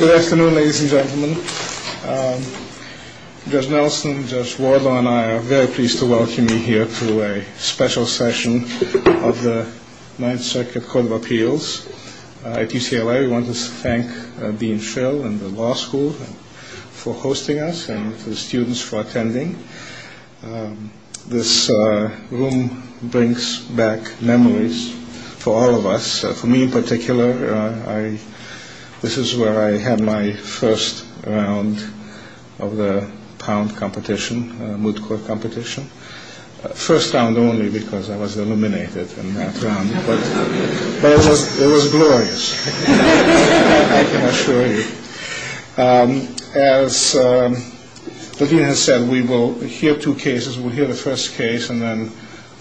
Good afternoon, ladies and gentlemen. Judge Nelson, Judge Wardlaw and I are very pleased to welcome you here to a special session of the Ninth Circuit Court of Appeals at UCLA. We want to thank Dean Schill and the law school for hosting us and the students for attending. This room brings back memories for all of us. For me in particular, this is where I had my first round of the pound competition, moot court competition. First round only because I was eliminated in that round, but it was glorious, I can assure you. As the Dean has said, we will hear two cases. We'll hear the first case and then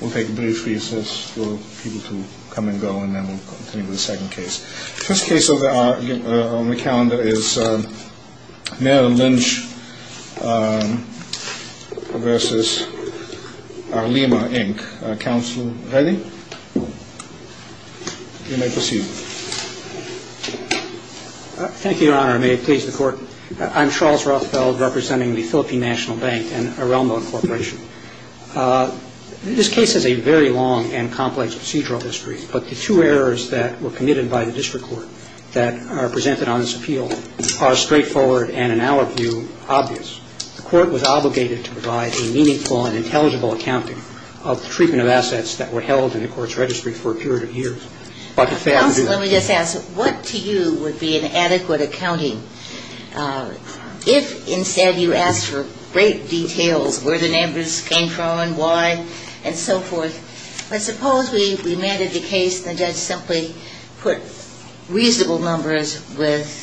we'll take brief recess for people to come and go and then we'll continue with the second case. First case on the calendar is Merrill Lynch v. Arelma, Inc. Counsel, ready? You may proceed. Thank you, Your Honor. May it please the Court. I'm Charles Rothfeld representing the Philippine National Bank and Arelma, Inc. This case has a very long and complex procedural history, but the two errors that were committed by the district court that are presented on this appeal are straightforward and in our view obvious. The court was obligated to provide a meaningful and intelligible accounting of the treatment of assets that were held in the court's registry for a period of years. Counsel, let me just ask, what to you would be an adequate accounting? If instead you asked for great details, where the numbers came from, why, and so forth, let's suppose we landed the case and the judge simply put reasonable numbers with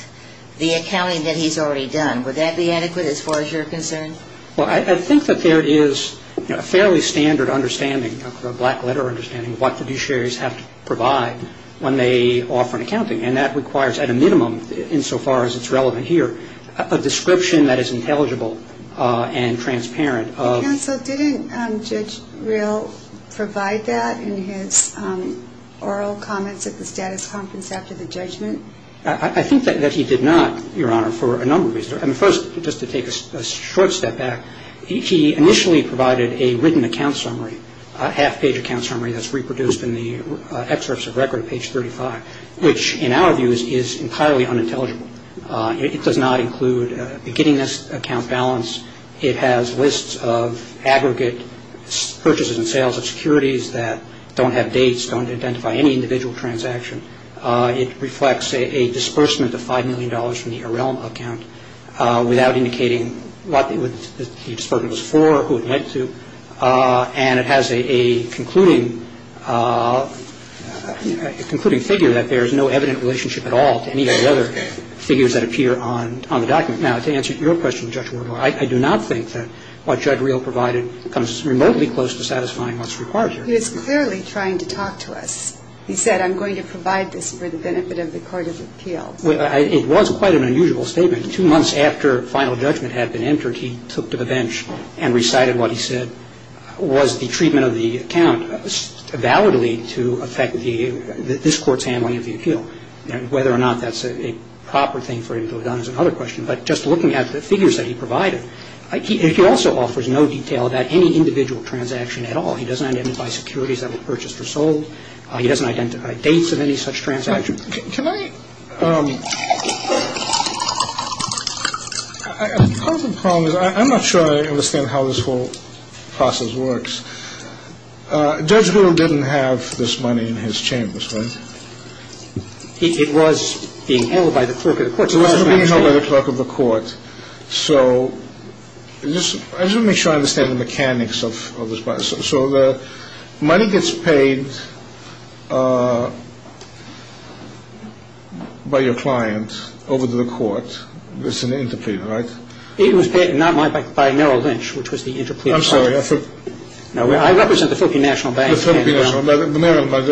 the accounting that he's already done. Would that be adequate as far as you're concerned? Well, I think that there is a fairly standard understanding, a black letter understanding of what fiduciaries have to provide when they offer an accounting, and that requires at a minimum, insofar as it's relevant here, a description that is intelligible and transparent. Counsel, didn't Judge Rill provide that in his oral comments at the status conference after the judgment? I think that he did not, Your Honor, for a number of reasons. First, just to take a short step back, he initially provided a hidden account summary, a half-page account summary that's reproduced in the excerpts of record at page 35, which in our views is entirely unintelligible. It does not include a beginning account balance. It has lists of aggregate purchases and sales of securities that don't have dates, don't identify any individual transaction. It reflects a disbursement of $5 million from the Arelma account without indicating what the disbursement was for, who it went to. And it has a concluding figure that there is no evident relationship at all to any of the other figures that appear on the document. Now, to answer your question, Judge Warren, I do not think that what Judge Rill provided comes remotely close to satisfying what's required here. He was clearly trying to talk to us. He said, I'm going to provide this for the benefit of the court of appeals. It was quite an unusual statement. Two months after final judgment had been entered, he took to the bench and recited what he said was the treatment of the account validly to affect this Court's handling of the appeal. Whether or not that's a proper thing for him to have done is another question. But just looking at the figures that he provided, he also offers no detail about any individual transaction at all. He doesn't identify securities that were purchased or sold. He doesn't identify dates of any such transaction. Can I... Part of the problem is I'm not sure I understand how this whole process works. Judge Rill didn't have this money in his chambers, right? It was being held by the clerk of the court. It was being held by the clerk of the court. So I just want to make sure I understand the mechanics of this. So the money gets paid by your client over to the court. It's an interpreter, right? It was paid, not by me, by Merrill Lynch, which was the interpreter. I'm sorry, I thought... No, I represent the Philippine National Bank. Merrill Lynch,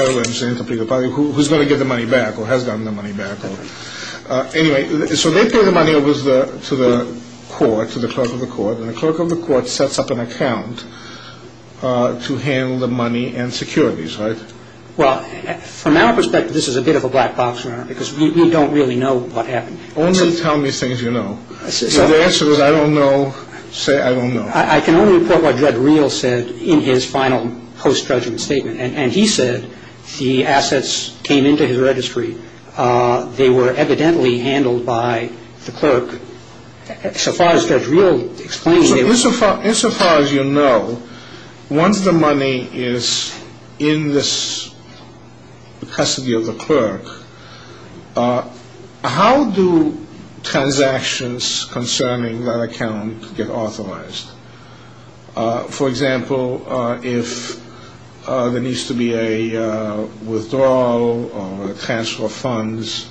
the interpreter. Who's going to give the money back or has gotten the money back. Anyway, so they pay the money over to the court, to the clerk of the court. And the clerk of the court sets up an account to handle the money and securities, right? Well, from our perspective, this is a bit of a black box, Your Honor, because we don't really know what happened. I can only report what Judge Rill said in his final post-judgment statement. And he said the assets came into his registry. They were evidently handled by the clerk. So far as Judge Rill explains... Insofar as you know, once the money is in this custody of the clerk, how do transactions concerning that account get authorized? For example, if there needs to be a withdrawal or a transfer of funds,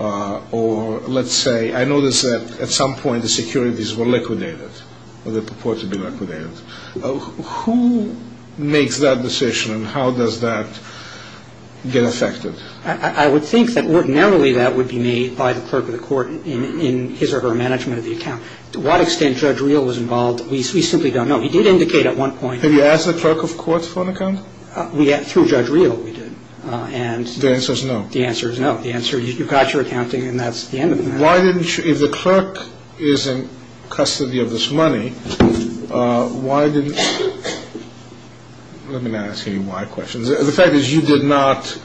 or let's say I notice that at some point the securities were liquidated, or they purport to be liquidated. Who makes that decision and how does that get effected? I would think that ordinarily that would be made by the clerk of the court in his or her management of the account. To what extent Judge Rill was involved, we simply don't know. He did indicate at one point... Have you asked the clerk of courts for an account? Through Judge Rill we did. The answer is no. If the clerk is in custody of this money, why didn't... Let me not ask any why questions. The fact is you did not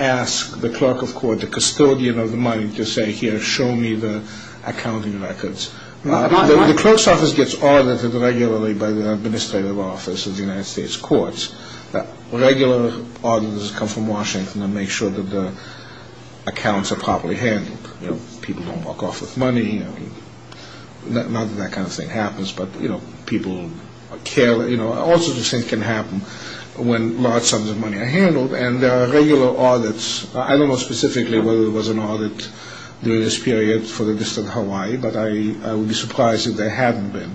ask the clerk of court, the custodian of the money, to say, here, show me the accounting records. The clerk's office gets audited regularly by the administrative office of the United States courts. Regular auditors come from Washington to make sure that the accounts are properly handled. People don't walk off with money. All sorts of things can happen when large sums of money are handled. And there are regular audits. I don't know specifically whether there was an audit during this period for the District of Hawaii, but I would be surprised if there hadn't been.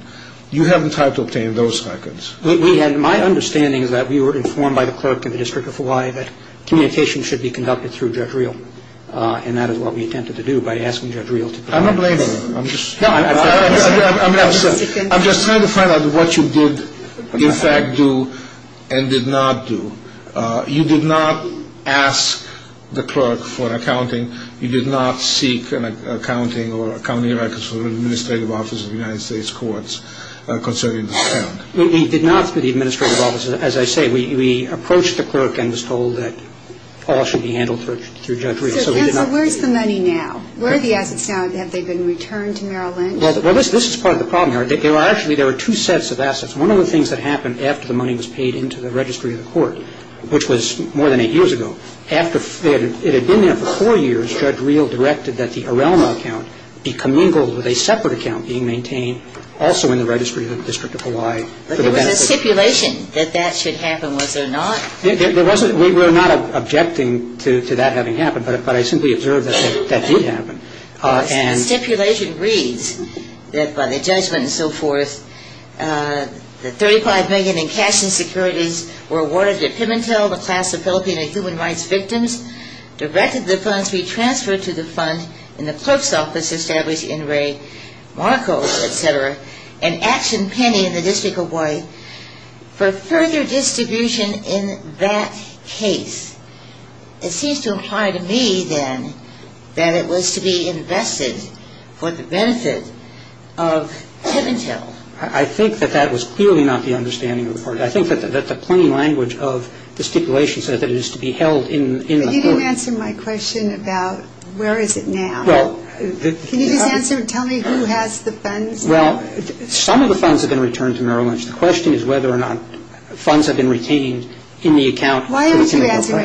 You haven't tried to obtain those records. My understanding is that we were informed by the clerk in the District of Hawaii that communication should be conducted through Judge Rill. And that is what we attempted to do by asking Judge Rill. I'm not blaming you. I'm just trying to find out what you did, in fact, do and did not do. You did not ask the clerk for accounting. You did not seek accounting or accounting records from the administrative office of the United States courts concerning this account. We did not through the administrative office. As I say, we approached the clerk and was told that all should be handled through Judge Rill. So where is the money now? Where are the assets now? Have they been returned to Merrill Lynch? Well, this is part of the problem. Actually, there are two sets of assets. One of the things that happened after the money was paid into the registry of the court, which was more than eight years ago, it had been there for four years, Judge Rill directed that the Arelmo account be commingled with a separate account being maintained also in the registry of the District of Hawaii. But there was a stipulation that that should happen, was there not? There wasn't. We were not objecting to that having happened, but I simply observed that that did happen. The stipulation reads that by the judgment and so forth, the $35 million in cash insecurities were awarded to Pimentel, the class of Filipino human rights victims, directed the funds be transferred to the fund in the clerk's office established in Ray, Monaco, et cetera, and Action Penny in the District of Hawaii for further distribution in that case. It seems to imply to me, then, that it was to be invested for the benefit of Pimentel. I think that that was clearly not the understanding of the court. I think that the plain language of the stipulation says that it is to be held in the court. But you didn't answer my question about where is it now. Can you just answer and tell me who has the funds now? Well, some of the funds have been returned to Merrill Lynch. The question is whether or not funds have been retained in the account. Why don't you answer?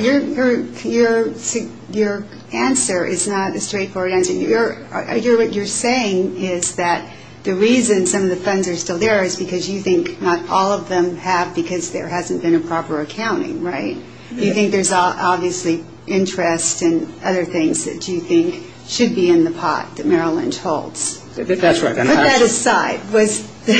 Your answer is not a straightforward answer. What you're saying is that the reason some of the funds are still there is because you think not all of them have because there hasn't been a proper accounting, right? You think there's obviously interest and other things that you think should be in the pot that Merrill Lynch holds. That's right. Put that aside. Was the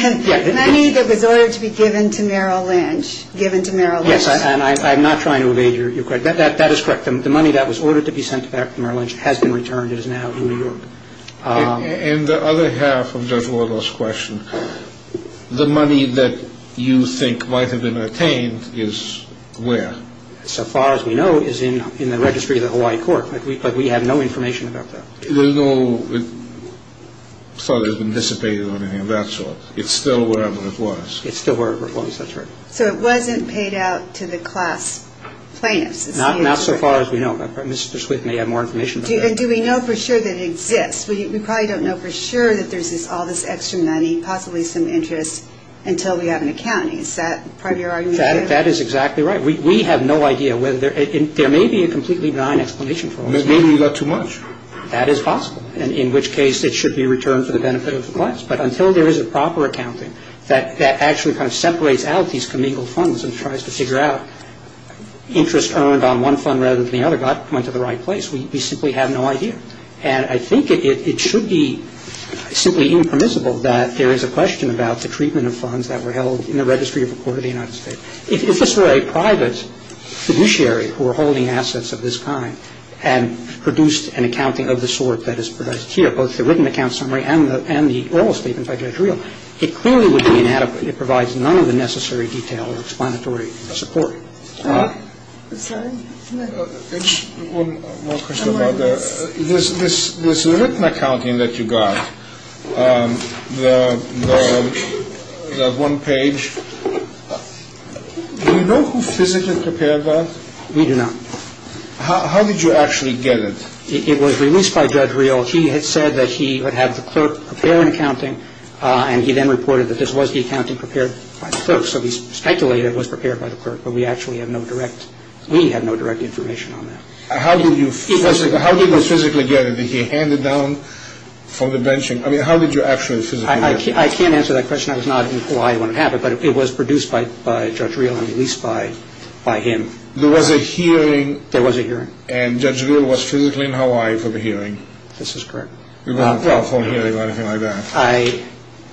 money that was ordered to be given to Merrill Lynch given to Merrill Lynch? Yes, and I'm not trying to evade your question. That is correct. The money that was ordered to be sent back to Merrill Lynch has been returned. It is now in New York. And the other half of Judge Wardle's question, the money that you think might have been retained is where? So far as we know, is in the registry of the Hawaii court. But we have no information about that. There's no thought that it's been dissipated or anything of that sort. It's still wherever it was. It's still wherever it was. That's right. So it wasn't paid out to the class plaintiffs? Not so far as we know. Mr. Swift may have more information about that. Do we know for sure that it exists? We probably don't know for sure that there's all this extra money, possibly some interest, until we have an accounting. Is that part of your argument? That is exactly right. We have no idea whether there may be a completely benign explanation for all this. Maybe you got too much. But until there is a proper accounting that actually kind of separates out these commingled funds and tries to figure out interest earned on one fund rather than the other, God, we went to the right place. We simply have no idea. And I think it should be simply impermissible that there is a question about the treatment of funds that were held in the registry of the court of the United States. If this were a private fiduciary who were holding assets of this kind and produced an accounting of the sort that is produced here, But if it were a private fiduciary that were holding assets, you would get both the written account summary and the oral statement by Judge Reel. It clearly would be inadequate. It provides none of the necessary detail, explanatory support. I'm sorry? One more question about this. This written accounting that you got, the one page, do you know who physically prepared that? We do not. How did you actually get it? It was released by Judge Reel. He had said that he would have the clerk prepare an accounting, and he then reported that this was the accounting prepared by the clerk. So he speculated it was prepared by the clerk, but we actually have no direct, we have no direct information on that. How did you physically get it? Did he hand it down from the benching? I mean, how did you actually physically get it? I can't answer that question. I was not in Hawaii when it happened, but it was produced by Judge Reel and released by him. There was a hearing? There was a hearing. And Judge Reel was physically in Hawaii for the hearing? This is correct. You didn't have a telephone hearing or anything like that?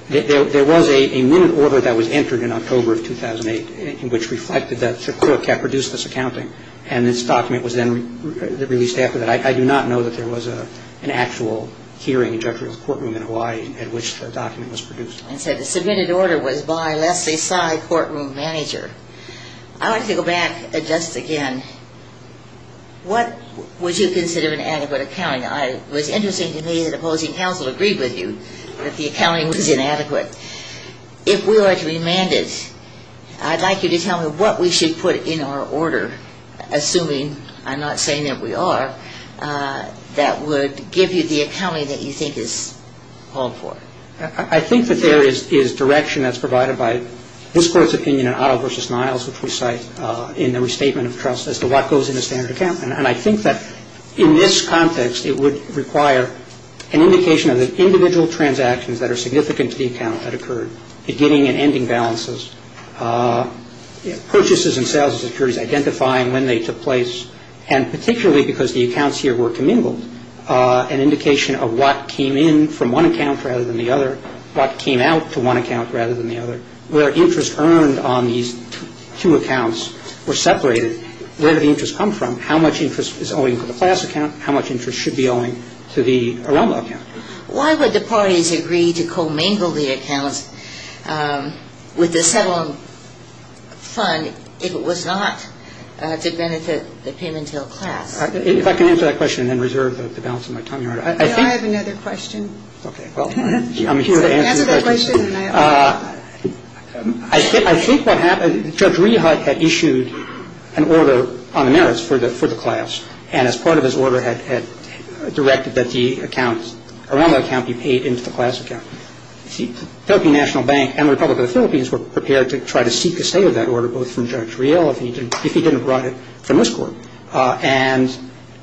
There was a minute order that was entered in October of 2008, which reflected that the clerk had produced this accounting, and this document was then released after that. I do not know that there was an actual hearing in Judge Reel's courtroom in Hawaii at which the document was produced. I said the submitted order was by Leslie Sy, courtroom manager. I want to go back just again. What would you consider an adequate accounting? It was interesting to me that opposing counsel agreed with you that the accounting was inadequate. If we were to be mandated, I'd like you to tell me what we should put in our order, assuming I'm not saying that we are, that would give you the accounting that you think is called for. I think that there is direction that's provided by this Court's opinion in Otto v. Niles, which we cite in the Restatement of Trust, as to what goes into standard accounting. And I think that in this context, it would require an indication of the individual transactions that are significant to the account that occurred, beginning and ending balances, purchases and sales securities, identifying when they took place, and particularly because the accounts here were commingled, an indication of what came in from one account rather than the other, what came out to one account rather than the other, where interest earned on these two accounts were separated. And I think it's important to understand where the interest comes from, how much interest is owing to the class account, how much interest should be owing to the Aroma account. Why would the parties agree to commingle the accounts with the settlement fund if it was not to benefit the Pimentel class? If I can answer that question and then reserve the balance of my time, Your Honor. I have another question. Okay. I'm here to answer the question. I think what happened, Judge Rehut had issued an order on the merits for the class, and as part of his order had directed that the accounts, Aroma account be paid into the class account. The Philippine National Bank and the Republic of the Philippines were prepared to try to seek a stay of that order, both from Judge Rehut if he didn't write it from this court. And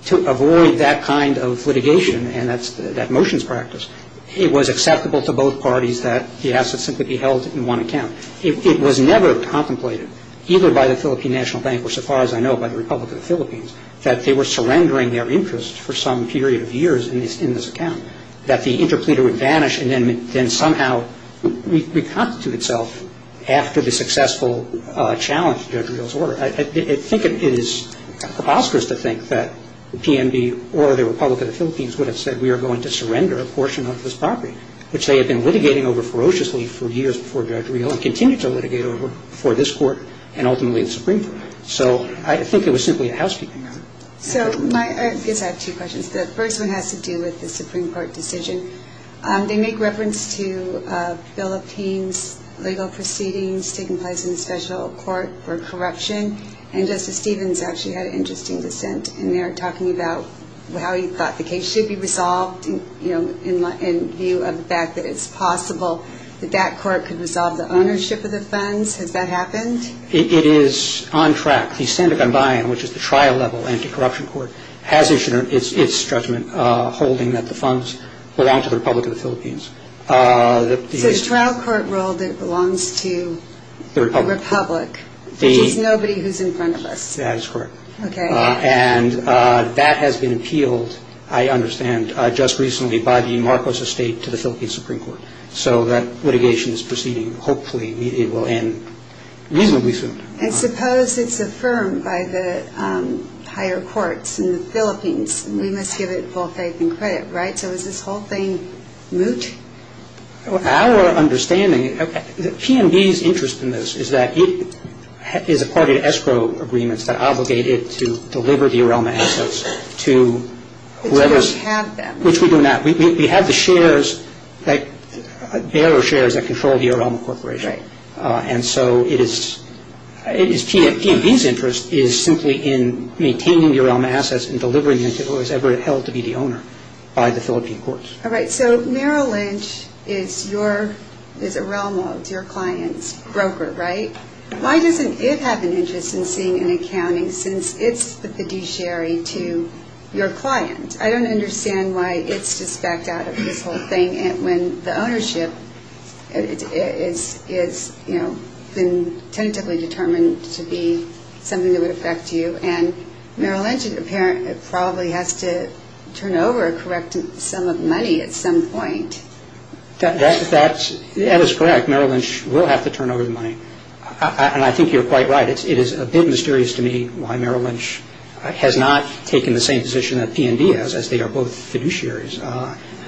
to avoid that kind of litigation, and that's that motion's practice, it was acceptable to both parties that the assets simply be held in one account. It was never contemplated, either by the Philippine National Bank or so far as I know by the Republic of the Philippines, that they were surrendering their interest for some period of years in this account, that the interpleader would vanish and then somehow reconstitute itself after the successful challenge of Judge Rehut's order. I think it is preposterous to think that the PNB or the Republic of the Philippines would have said we are going to surrender a portion of this property, which they had been litigating over ferociously for years before Judge Rehut and continue to litigate over before this court and ultimately the Supreme Court. So I think it was simply a housekeeping matter. So my – I guess I have two questions. The first one has to do with the Supreme Court decision. They make reference to Philippines legal proceedings taking place in a special court for corruption, and Justice Stevens actually had an interesting dissent in there talking about how he thought the case should be resolved in view of the fact that it's possible that that court could resolve the ownership of the funds. Has that happened? It is on track. The Senda Gambayan, which is the trial level anti-corruption court, has issued its judgment holding that the funds belong to the Republic of the Philippines. So the trial court ruled it belongs to the Republic, which is nobody who is in front of us. That is correct. And that has been appealed, I understand, just recently by the Marcos Estate to the Philippine Supreme Court. So that litigation is proceeding. Hopefully it will end reasonably soon. And suppose it's affirmed by the higher courts in the Philippines. We must give it full faith and credit, right? So is this whole thing moot? Our understanding, PNB's interest in this is that it is a party to escrow agreements that obligate it to deliver the Arelma assets to whoever's- It doesn't have them. Which we do not. We have the shares, like, their shares that control the Arelma Corporation. Right. And so it is, PNB's interest is simply in maintaining the Arelma assets and delivering them to whoever is held to be the owner by the Philippine courts. All right. So Merrill Lynch is Arelma, it's your client's broker, right? Why doesn't it have an interest in seeing an accounting since it's the fiduciary to your client? I don't understand why it's just backed out of this whole thing when the ownership has been tentatively determined to be something that would affect you. And Merrill Lynch probably has to turn over a correct sum of money at some point. That is correct. Merrill Lynch will have to turn over the money. And I think you're quite right. It is a bit mysterious to me why Merrill Lynch has not taken the same position that PNB has, as they are both fiduciaries.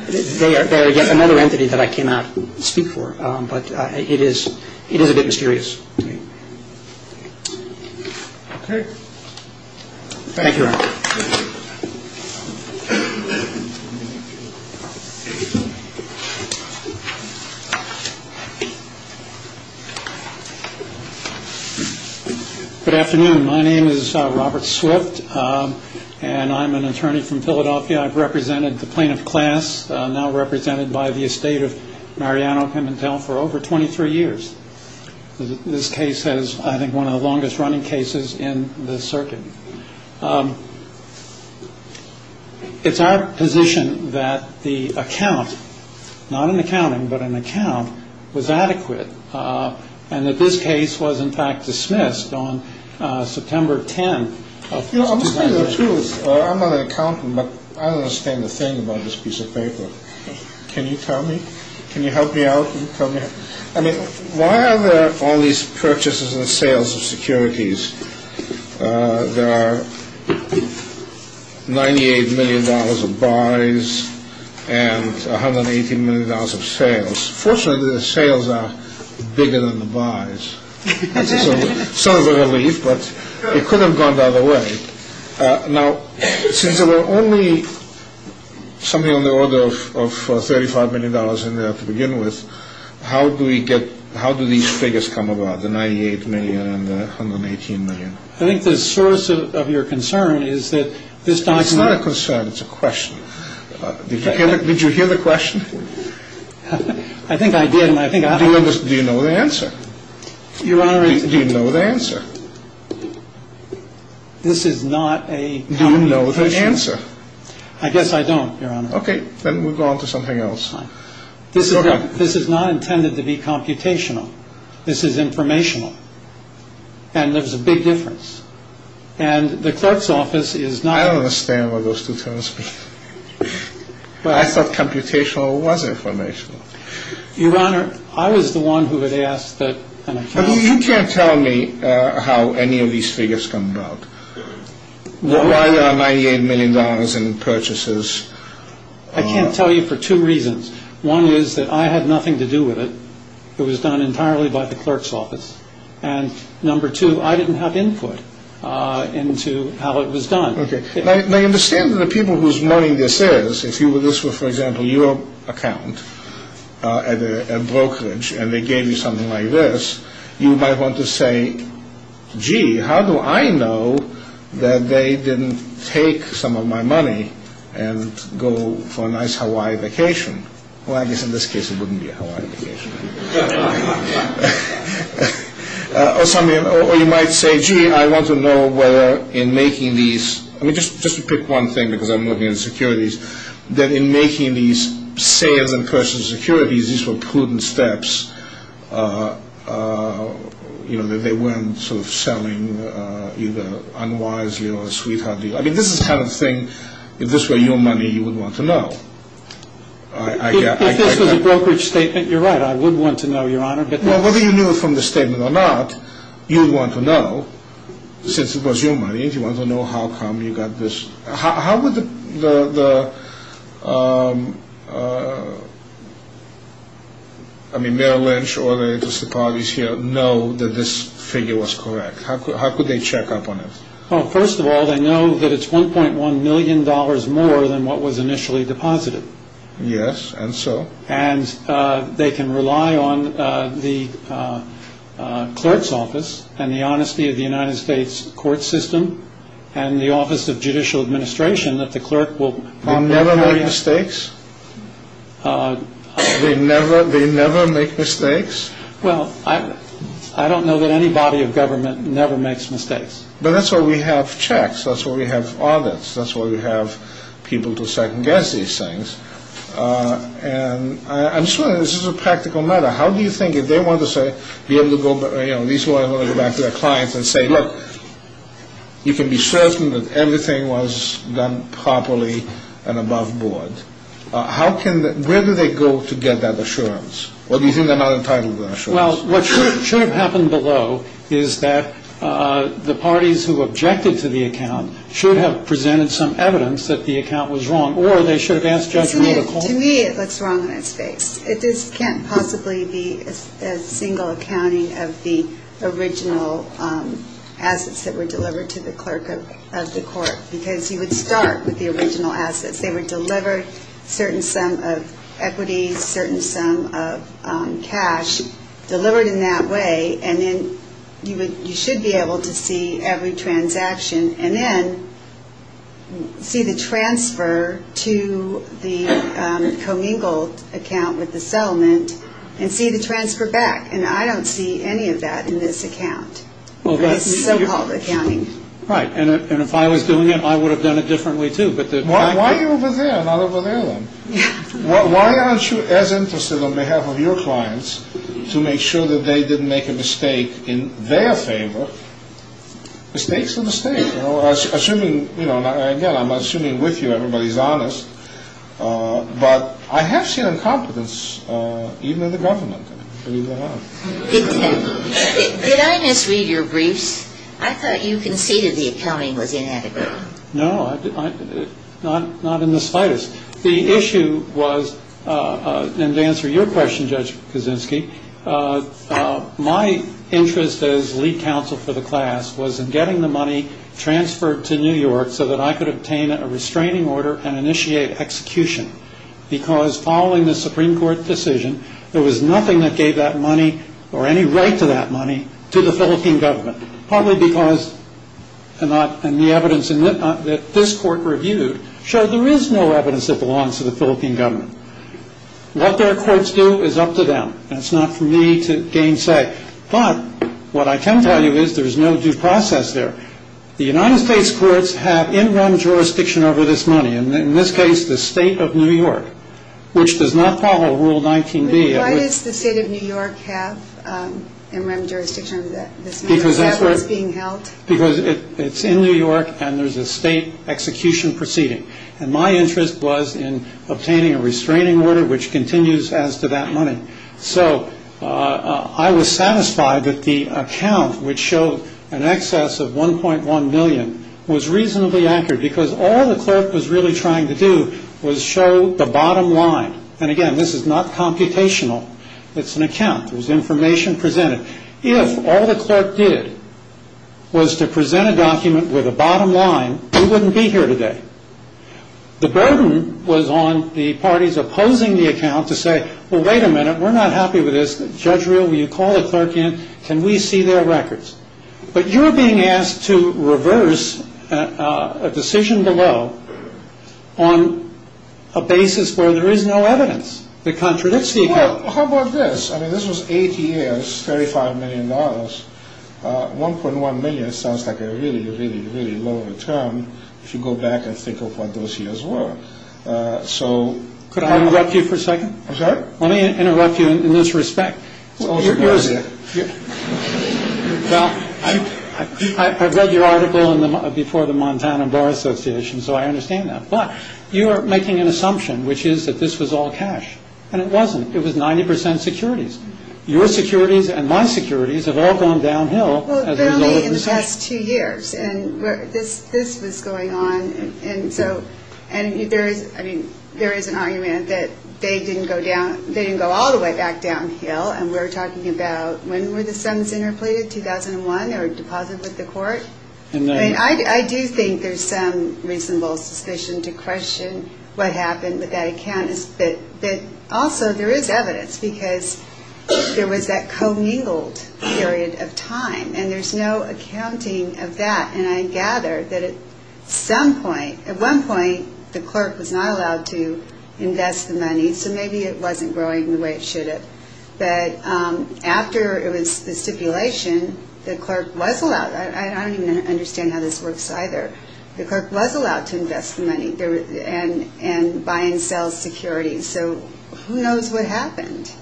They are yet another entity that I cannot speak for. But it is a bit mysterious to me. Okay. Thank you. Good afternoon. My name is Robert Swift, and I'm an attorney from Philadelphia. I've represented the plaintiff class, now represented by the estate of Mariano Pimentel, for over 23 years. This case is, I think, one of the longest-running cases in the circuit. It's our position that the account, not an accounting, but an account, was adequate, and that this case was, in fact, dismissed on September 10 of 2009. I'm not an accountant, but I don't understand a thing about this piece of paper. Can you tell me? Can you help me out? I mean, why are there all these purchases and sales of securities? There are $98 million of buys and $118 million of sales. Fortunately, the sales are bigger than the buys. That's a sign of relief, but it could have gone the other way. Now, since there were only something on the order of $35 million in there to begin with, how do these figures come about, the $98 million and the $118 million? I think the source of your concern is that this document- It's not a concern. It's a question. Did you hear the question? I think I did. Do you know the answer? Your Honor- Do you know the answer? This is not a- Do you know the answer? I guess I don't, Your Honor. Okay, then we'll go on to something else. This is not intended to be computational. This is informational, and there's a big difference. And the clerk's office is not- I don't understand one of those two terms. I thought computational was informational. Your Honor, I was the one who had asked that an accountant- You can't tell me how any of these figures come about, why there are $98 million in purchases. I can't tell you for two reasons. One is that I had nothing to do with it. It was done entirely by the clerk's office. And number two, I didn't have input into how it was done. I understand that the people whose money this is, if this were, for example, your account at a brokerage and they gave you something like this, you might want to say, gee, how do I know that they didn't take some of my money and go for a nice Hawaii vacation? Well, I guess in this case it wouldn't be a Hawaii vacation. Or you might say, gee, I want to know whether in making these- I mean, just to pick one thing because I'm looking at securities, that in making these sales in personal securities, these were prudent steps. You know, that they weren't sort of selling either unwisely or sweetheartly. I mean, this is the kind of thing, if this were your money, you would want to know. If this was a brokerage statement, you're right. I would want to know, Your Honor. Well, whether you knew it from the statement or not, you would want to know, since it was your money, if you wanted to know how come you got this- How would the- I mean, Mayor Lynch or the interested parties here know that this figure was correct? How could they check up on it? Well, first of all, they know that it's $1.1 million more than what was initially deposited. Yes, and so? And they can rely on the clerk's office and the honesty of the United States court system and the office of judicial administration that the clerk will- Never make mistakes? They never make mistakes? Well, I don't know that any body of government never makes mistakes. But that's why we have checks. That's why we have audits. That's why we have people to second-guess these things. And I'm just wondering, this is a practical matter. How do you think, if they wanted to say, be able to go- These lawyers want to go back to their clients and say, look, you can be certain that everything was done properly and above board. How can- Where do they go to get that assurance? Or do you think they're not entitled to that assurance? Well, what should have happened below is that the parties who objected to the account should have presented some evidence that the account was wrong, or they should have asked judgmental- To me, it looks wrong on its face. It just can't possibly be a single accounting of the original assets that were delivered to the clerk of the court, because you would start with the original assets. They were delivered a certain sum of equity, a certain sum of cash, delivered in that way, and then you should be able to see every transaction, and then see the transfer to the commingled account with the settlement, and see the transfer back. And I don't see any of that in this account, in this so-called accounting. Right. And if I was doing it, I would have done it differently, too. Why are you over there? I'm not over there, then. Why aren't you as interested, on behalf of your clients, to make sure that they didn't make a mistake in their favor? Mistakes are mistakes. Again, I'm assuming with you everybody's honest. But I have seen incompetence, even in the government. I believe I have. Did I misread your briefs? I thought you conceded the accounting was inadequate. No, not in the slightest. The issue was, and to answer your question, Judge Kaczynski, my interest as lead counsel for the class was in getting the money transferred to New York so that I could obtain a restraining order and initiate execution. Because following the Supreme Court decision, there was nothing that gave that money, or any right to that money, to the Philippine government. Partly because, and the evidence that this court reviewed, showed there is no evidence that belongs to the Philippine government. What their courts do is up to them. That's not for me to gainsay. But what I can tell you is there is no due process there. The United States courts have in-rem jurisdiction over this money, and in this case, the state of New York, which does not follow Rule 19b. Why does the state of New York have in-rem jurisdiction over that? Because that's where it's being held? Because it's in New York, and there's a state execution proceeding. And my interest was in obtaining a restraining order, which continues as to that money. So I was satisfied that the account, which showed an excess of $1.1 million, was reasonably accurate because all the clerk was really trying to do was show the bottom line. And again, this is not computational. It's an account. It was information presented. If all the clerk did was to present a document with a bottom line, we wouldn't be here today. The burden was on the parties opposing the account to say, well, wait a minute, we're not happy with this. Judge Reel, will you call the clerk in? Can we see their records? But you're being asked to reverse a decision below on a basis where there is no evidence that contradicts the account. Well, how about this? I mean, this was 80 years, $35 million. $1.1 million sounds like a really, really, really low return if you go back and think of what those years were. Could I interrupt you for a second? I'm sorry? Let me interrupt you in this respect. It's always a good idea. Well, I've read your article before the Montana Bar Association, so I understand that. But you are making an assumption, which is that this was all cash. And it wasn't. It was 90% securities. Your securities and my securities have all gone downhill as a result of this. Well, but only in the past two years. And this was going on. And so there is an argument that they didn't go all the way back downhill, and we're talking about when were the sums interpleaded? 2001, they were deposited with the court. I do think there's some reasonable suspicion to question what happened with that account. But also there is evidence, because there was that commingled period of time, and there's no accounting of that. And I gather that at some point, at one point, the clerk was not allowed to invest the money, so maybe it wasn't growing the way it should have. But after it was the stipulation, the clerk was allowed. I don't even understand how this works either. The clerk was allowed to invest the money and buy and sell securities. So who knows what happened?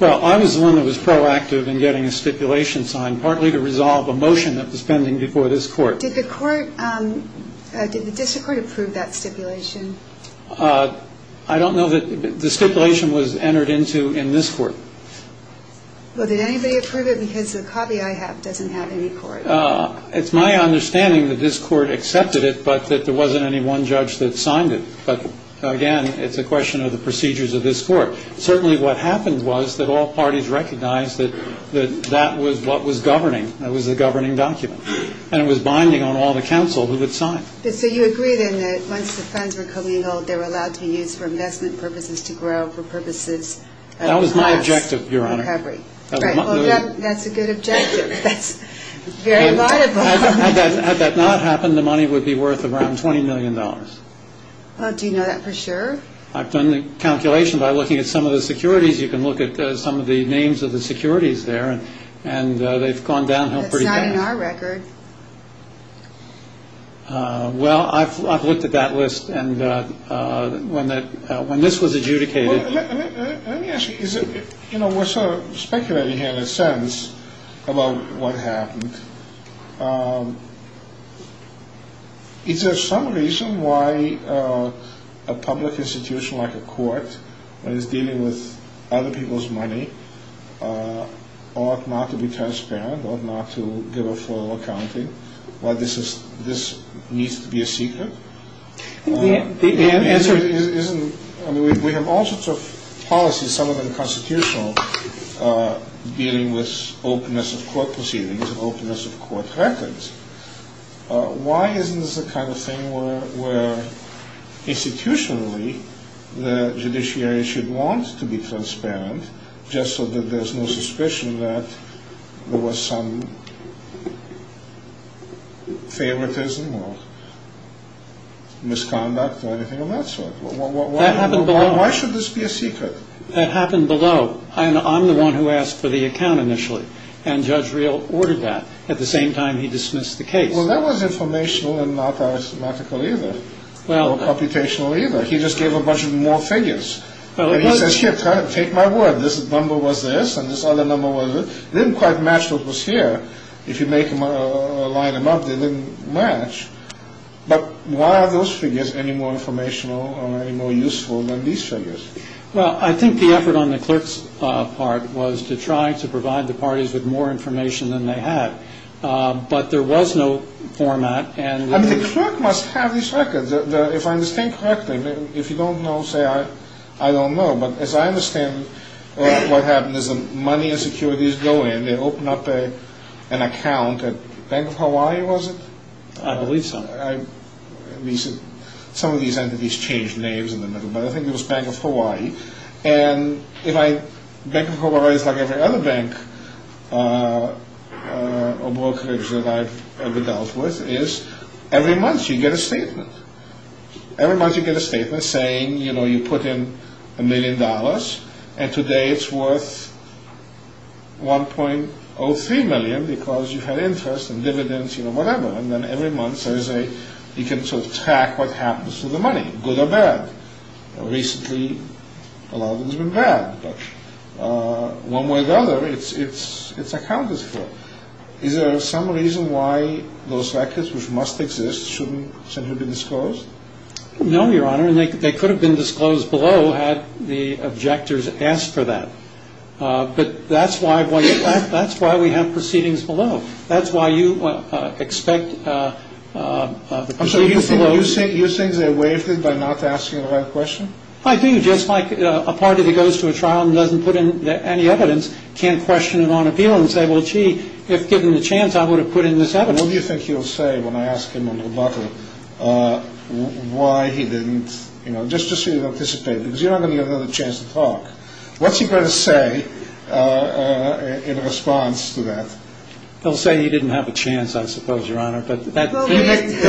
Well, I was the one that was proactive in getting a stipulation signed, partly to resolve a motion that was pending before this court. Did the court, did the district court approve that stipulation? I don't know that the stipulation was entered into in this court. Well, did anybody approve it? Because the copy I have doesn't have any court. It's my understanding that this court accepted it, but that there wasn't any one judge that signed it. But, again, it's a question of the procedures of this court. Certainly what happened was that all parties recognized that that was what was governing. That was the governing document. And it was binding on all the counsel who had signed. So you agreed in that once the funds were commingled, they were allowed to be used for investment purposes, to grow for purposes of cost recovery. That was my objective, Your Honor. Well, that's a good objective. That's very laudable. Had that not happened, the money would be worth around $20 million. Do you know that for sure? I've done the calculation by looking at some of the securities. You can look at some of the names of the securities there. And they've gone downhill pretty fast. That's not in our record. Well, I've looked at that list. When this was adjudicated... Let me ask you. We're sort of speculating here, in a sense, about what happened. Is there some reason why a public institution like a court, when it's dealing with other people's money, ought not to be transparent, ought not to give a full accounting, why this needs to be a secret? The answer isn't... I mean, we have all sorts of policies, some of them constitutional, dealing with openness of court proceedings and openness of court records. Why isn't this the kind of thing where, institutionally, the judiciary should want to be transparent, just so that there's no suspicion that there was some favoritism? Misconduct or anything of that sort. That happened below. Why should this be a secret? That happened below. I'm the one who asked for the account initially. And Judge Reel ordered that. At the same time, he dismissed the case. Well, that was informational and not arithmetical either. Or computational either. He just gave a bunch of more figures. He says, here, take my word. This number was this, and this other number was this. It didn't quite match what was here. If you line them up, they didn't match. But why are those figures any more informational or any more useful than these figures? Well, I think the effort on the clerk's part was to try to provide the parties with more information than they had. But there was no format. I mean, the clerk must have these records. If I understand correctly, if you don't know, say, I don't know. But as I understand what happened is the money and securities go in. They open up an account at Bank of Hawaii, was it? I believe so. Some of these entities changed names in the middle. But I think it was Bank of Hawaii. And Bank of Hawaii is like every other bank or brokerage that I've ever dealt with, is every month you get a statement. Every month you get a statement saying, you know, you put in a million dollars. And today it's worth $1.03 million because you've had interest and dividends, you know, whatever. And then every month there is a, you can sort of track what happens to the money, good or bad. Recently, a lot of it has been bad. But one way or the other, it's accounted for. Is there some reason why those records, which must exist, shouldn't have been disclosed? No, Your Honor. They could have been disclosed below had the objectors asked for that. But that's why we have proceedings below. That's why you expect the proceedings below. So you think they waived it by not asking the right question? I do. Just like a party that goes to a trial and doesn't put in any evidence can't question it on appeal and say, well, gee, if given the chance, I would have put in this evidence. Your Honor, what do you think he'll say when I ask him on rebuttal why he didn't, you know, just to see if he'll participate because you're not going to give him another chance to talk. What's he going to say in response to that? He'll say he didn't have a chance, I suppose, Your Honor. But there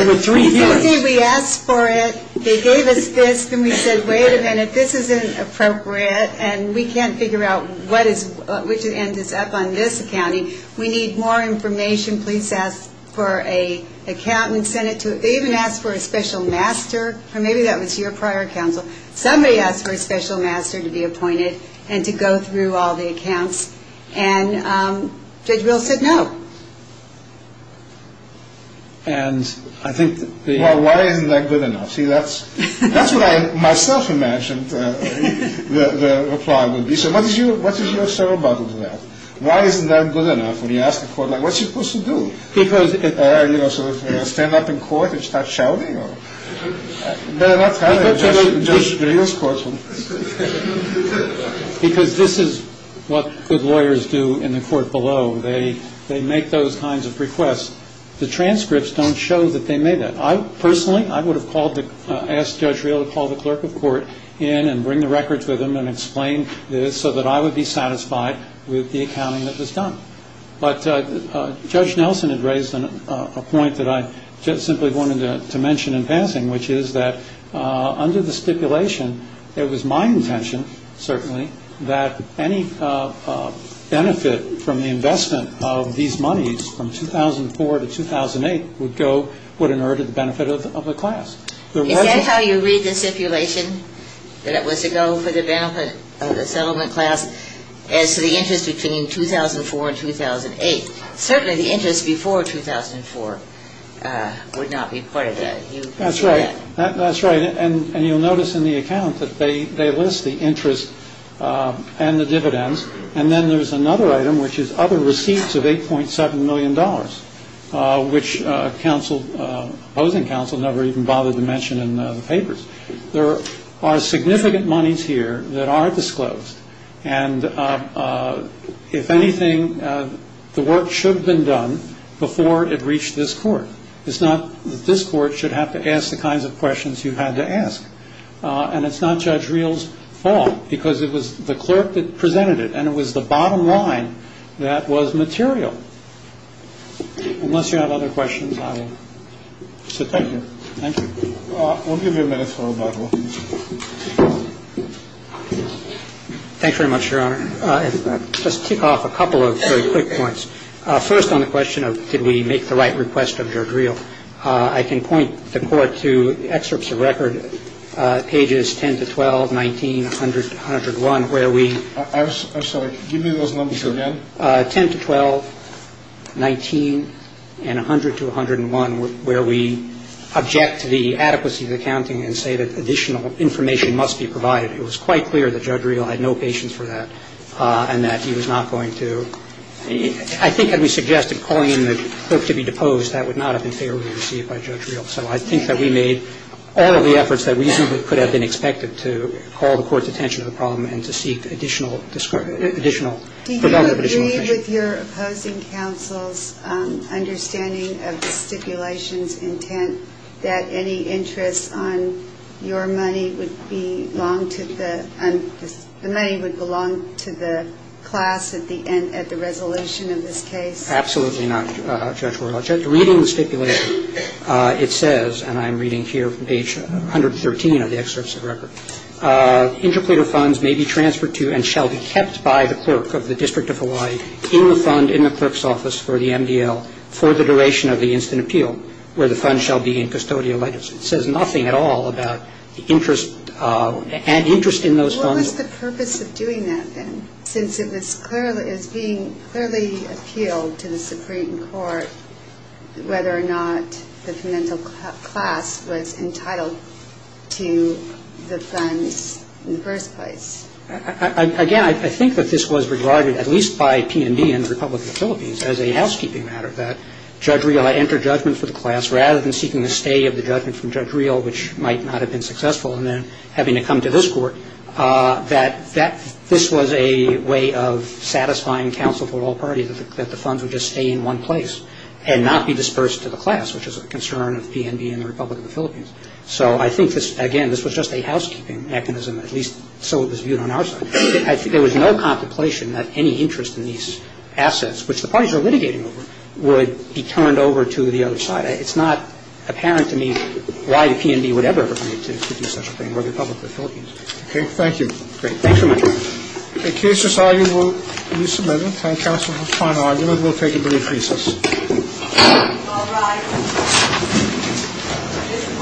were three hearings. We asked for it. They gave us this. Then we said, wait a minute, this isn't appropriate. And we can't figure out which end is up on this accounting. We need more information. Police asked for an account. We sent it to them. They even asked for a special master. Maybe that was your prior counsel. Somebody asked for a special master to be appointed and to go through all the accounts. And Judge Rill said no. Well, why isn't that good enough? See, that's what I myself imagined the reply would be. So what is your settle button to that? Why isn't that good enough? When you ask the court, like, what's he supposed to do? Stand up in court and start shouting? Judge Rill's courtroom. Because this is what good lawyers do in the court below. They make those kinds of requests. The transcripts don't show that they made that. Personally, I would have asked Judge Rill to call the clerk of court in and bring the records with him and explain this so that I would be satisfied with the accounting that was done. But Judge Nelson had raised a point that I just simply wanted to mention in passing, which is that under the stipulation, it was my intention, certainly, that any benefit from the investment of these monies from 2004 to 2008 would go, would inert at the benefit of the class. Is that how you read the stipulation? That it was to go for the benefit of the settlement class as to the interest between 2004 and 2008? Certainly the interest before 2004 would not be part of that. That's right. That's right. And you'll notice in the account that they list the interest and the dividends. And then there's another item, which is other receipts of $8.7 million, which opposing counsel never even bothered to mention in the papers. There are significant monies here that are disclosed. And if anything, the work should have been done before it reached this court. It's not that this court should have to ask the kinds of questions you had to ask. And it's not Judge Rill's fault, because it was the clerk that presented it, and it was the bottom line that was material. Unless you have other questions, I will. So thank you. Thank you. We'll give you a minute for rebuttal. Thanks very much, Your Honor. I'll just tick off a couple of very quick points. First on the question of did we make the right request of Judge Rill, I can point the Court to excerpts of record, pages 10 to 12, 19, 100 to 101, where we object to the adequacy of the counting and say that additional information must be provided. It was quite clear that Judge Rill had no patience for that and that he was not going to – I think had we suggested calling in the clerk to be deposed, that would not have been fairly received by Judge Rill. So I think that we made all of the efforts that reasonably could have been expected to call the Court's attention to the problem and to seek additional information Do you agree with your opposing counsel's understanding of the stipulation's intent that any interest on your money would belong to the – the money would belong to the class at the end – at the resolution of this case? Absolutely not, Judge Rill. Reading the stipulation, it says, and I'm reading here from page 113 of the excerpts of record, interclear funds may be transferred to and shall be kept by the clerk of the District of Hawaii in the fund in the clerk's office for the MDL for the duration of the instant appeal, where the fund shall be in custodial letters. It says nothing at all about the interest – interest in those funds. What was the purpose of doing that, then, since it was clearly – it was being clearly appealed to the Supreme Court whether or not the convental class was entitled to the funds in the first place? Again, I think that this was regarded, at least by PNB and the Republic of the Philippines, as a housekeeping matter, that, Judge Rill, I enter judgment for the class, rather than seeking the stay of the judgment from Judge Rill, which might not have been successful, and then having to come to this Court, that this was a way of satisfying counsel for all parties, that the funds would just stay in one place and not be dispersed to the class, which is a concern of PNB and the Republic of the Philippines. So I think this – again, this was just a housekeeping mechanism, at least so it was viewed on our side. I think there was no contemplation that any interest in these assets, which the parties are litigating over, would be turned over to the other side. It's not apparent to me why the PNB would ever agree to do such a thing, or the Republic of the Philippines. Okay. Thank you. Great. Thanks very much. The case is argued. We'll resubmit it. Thank counsel for this fine argument. We'll take a brief recess. Thank you.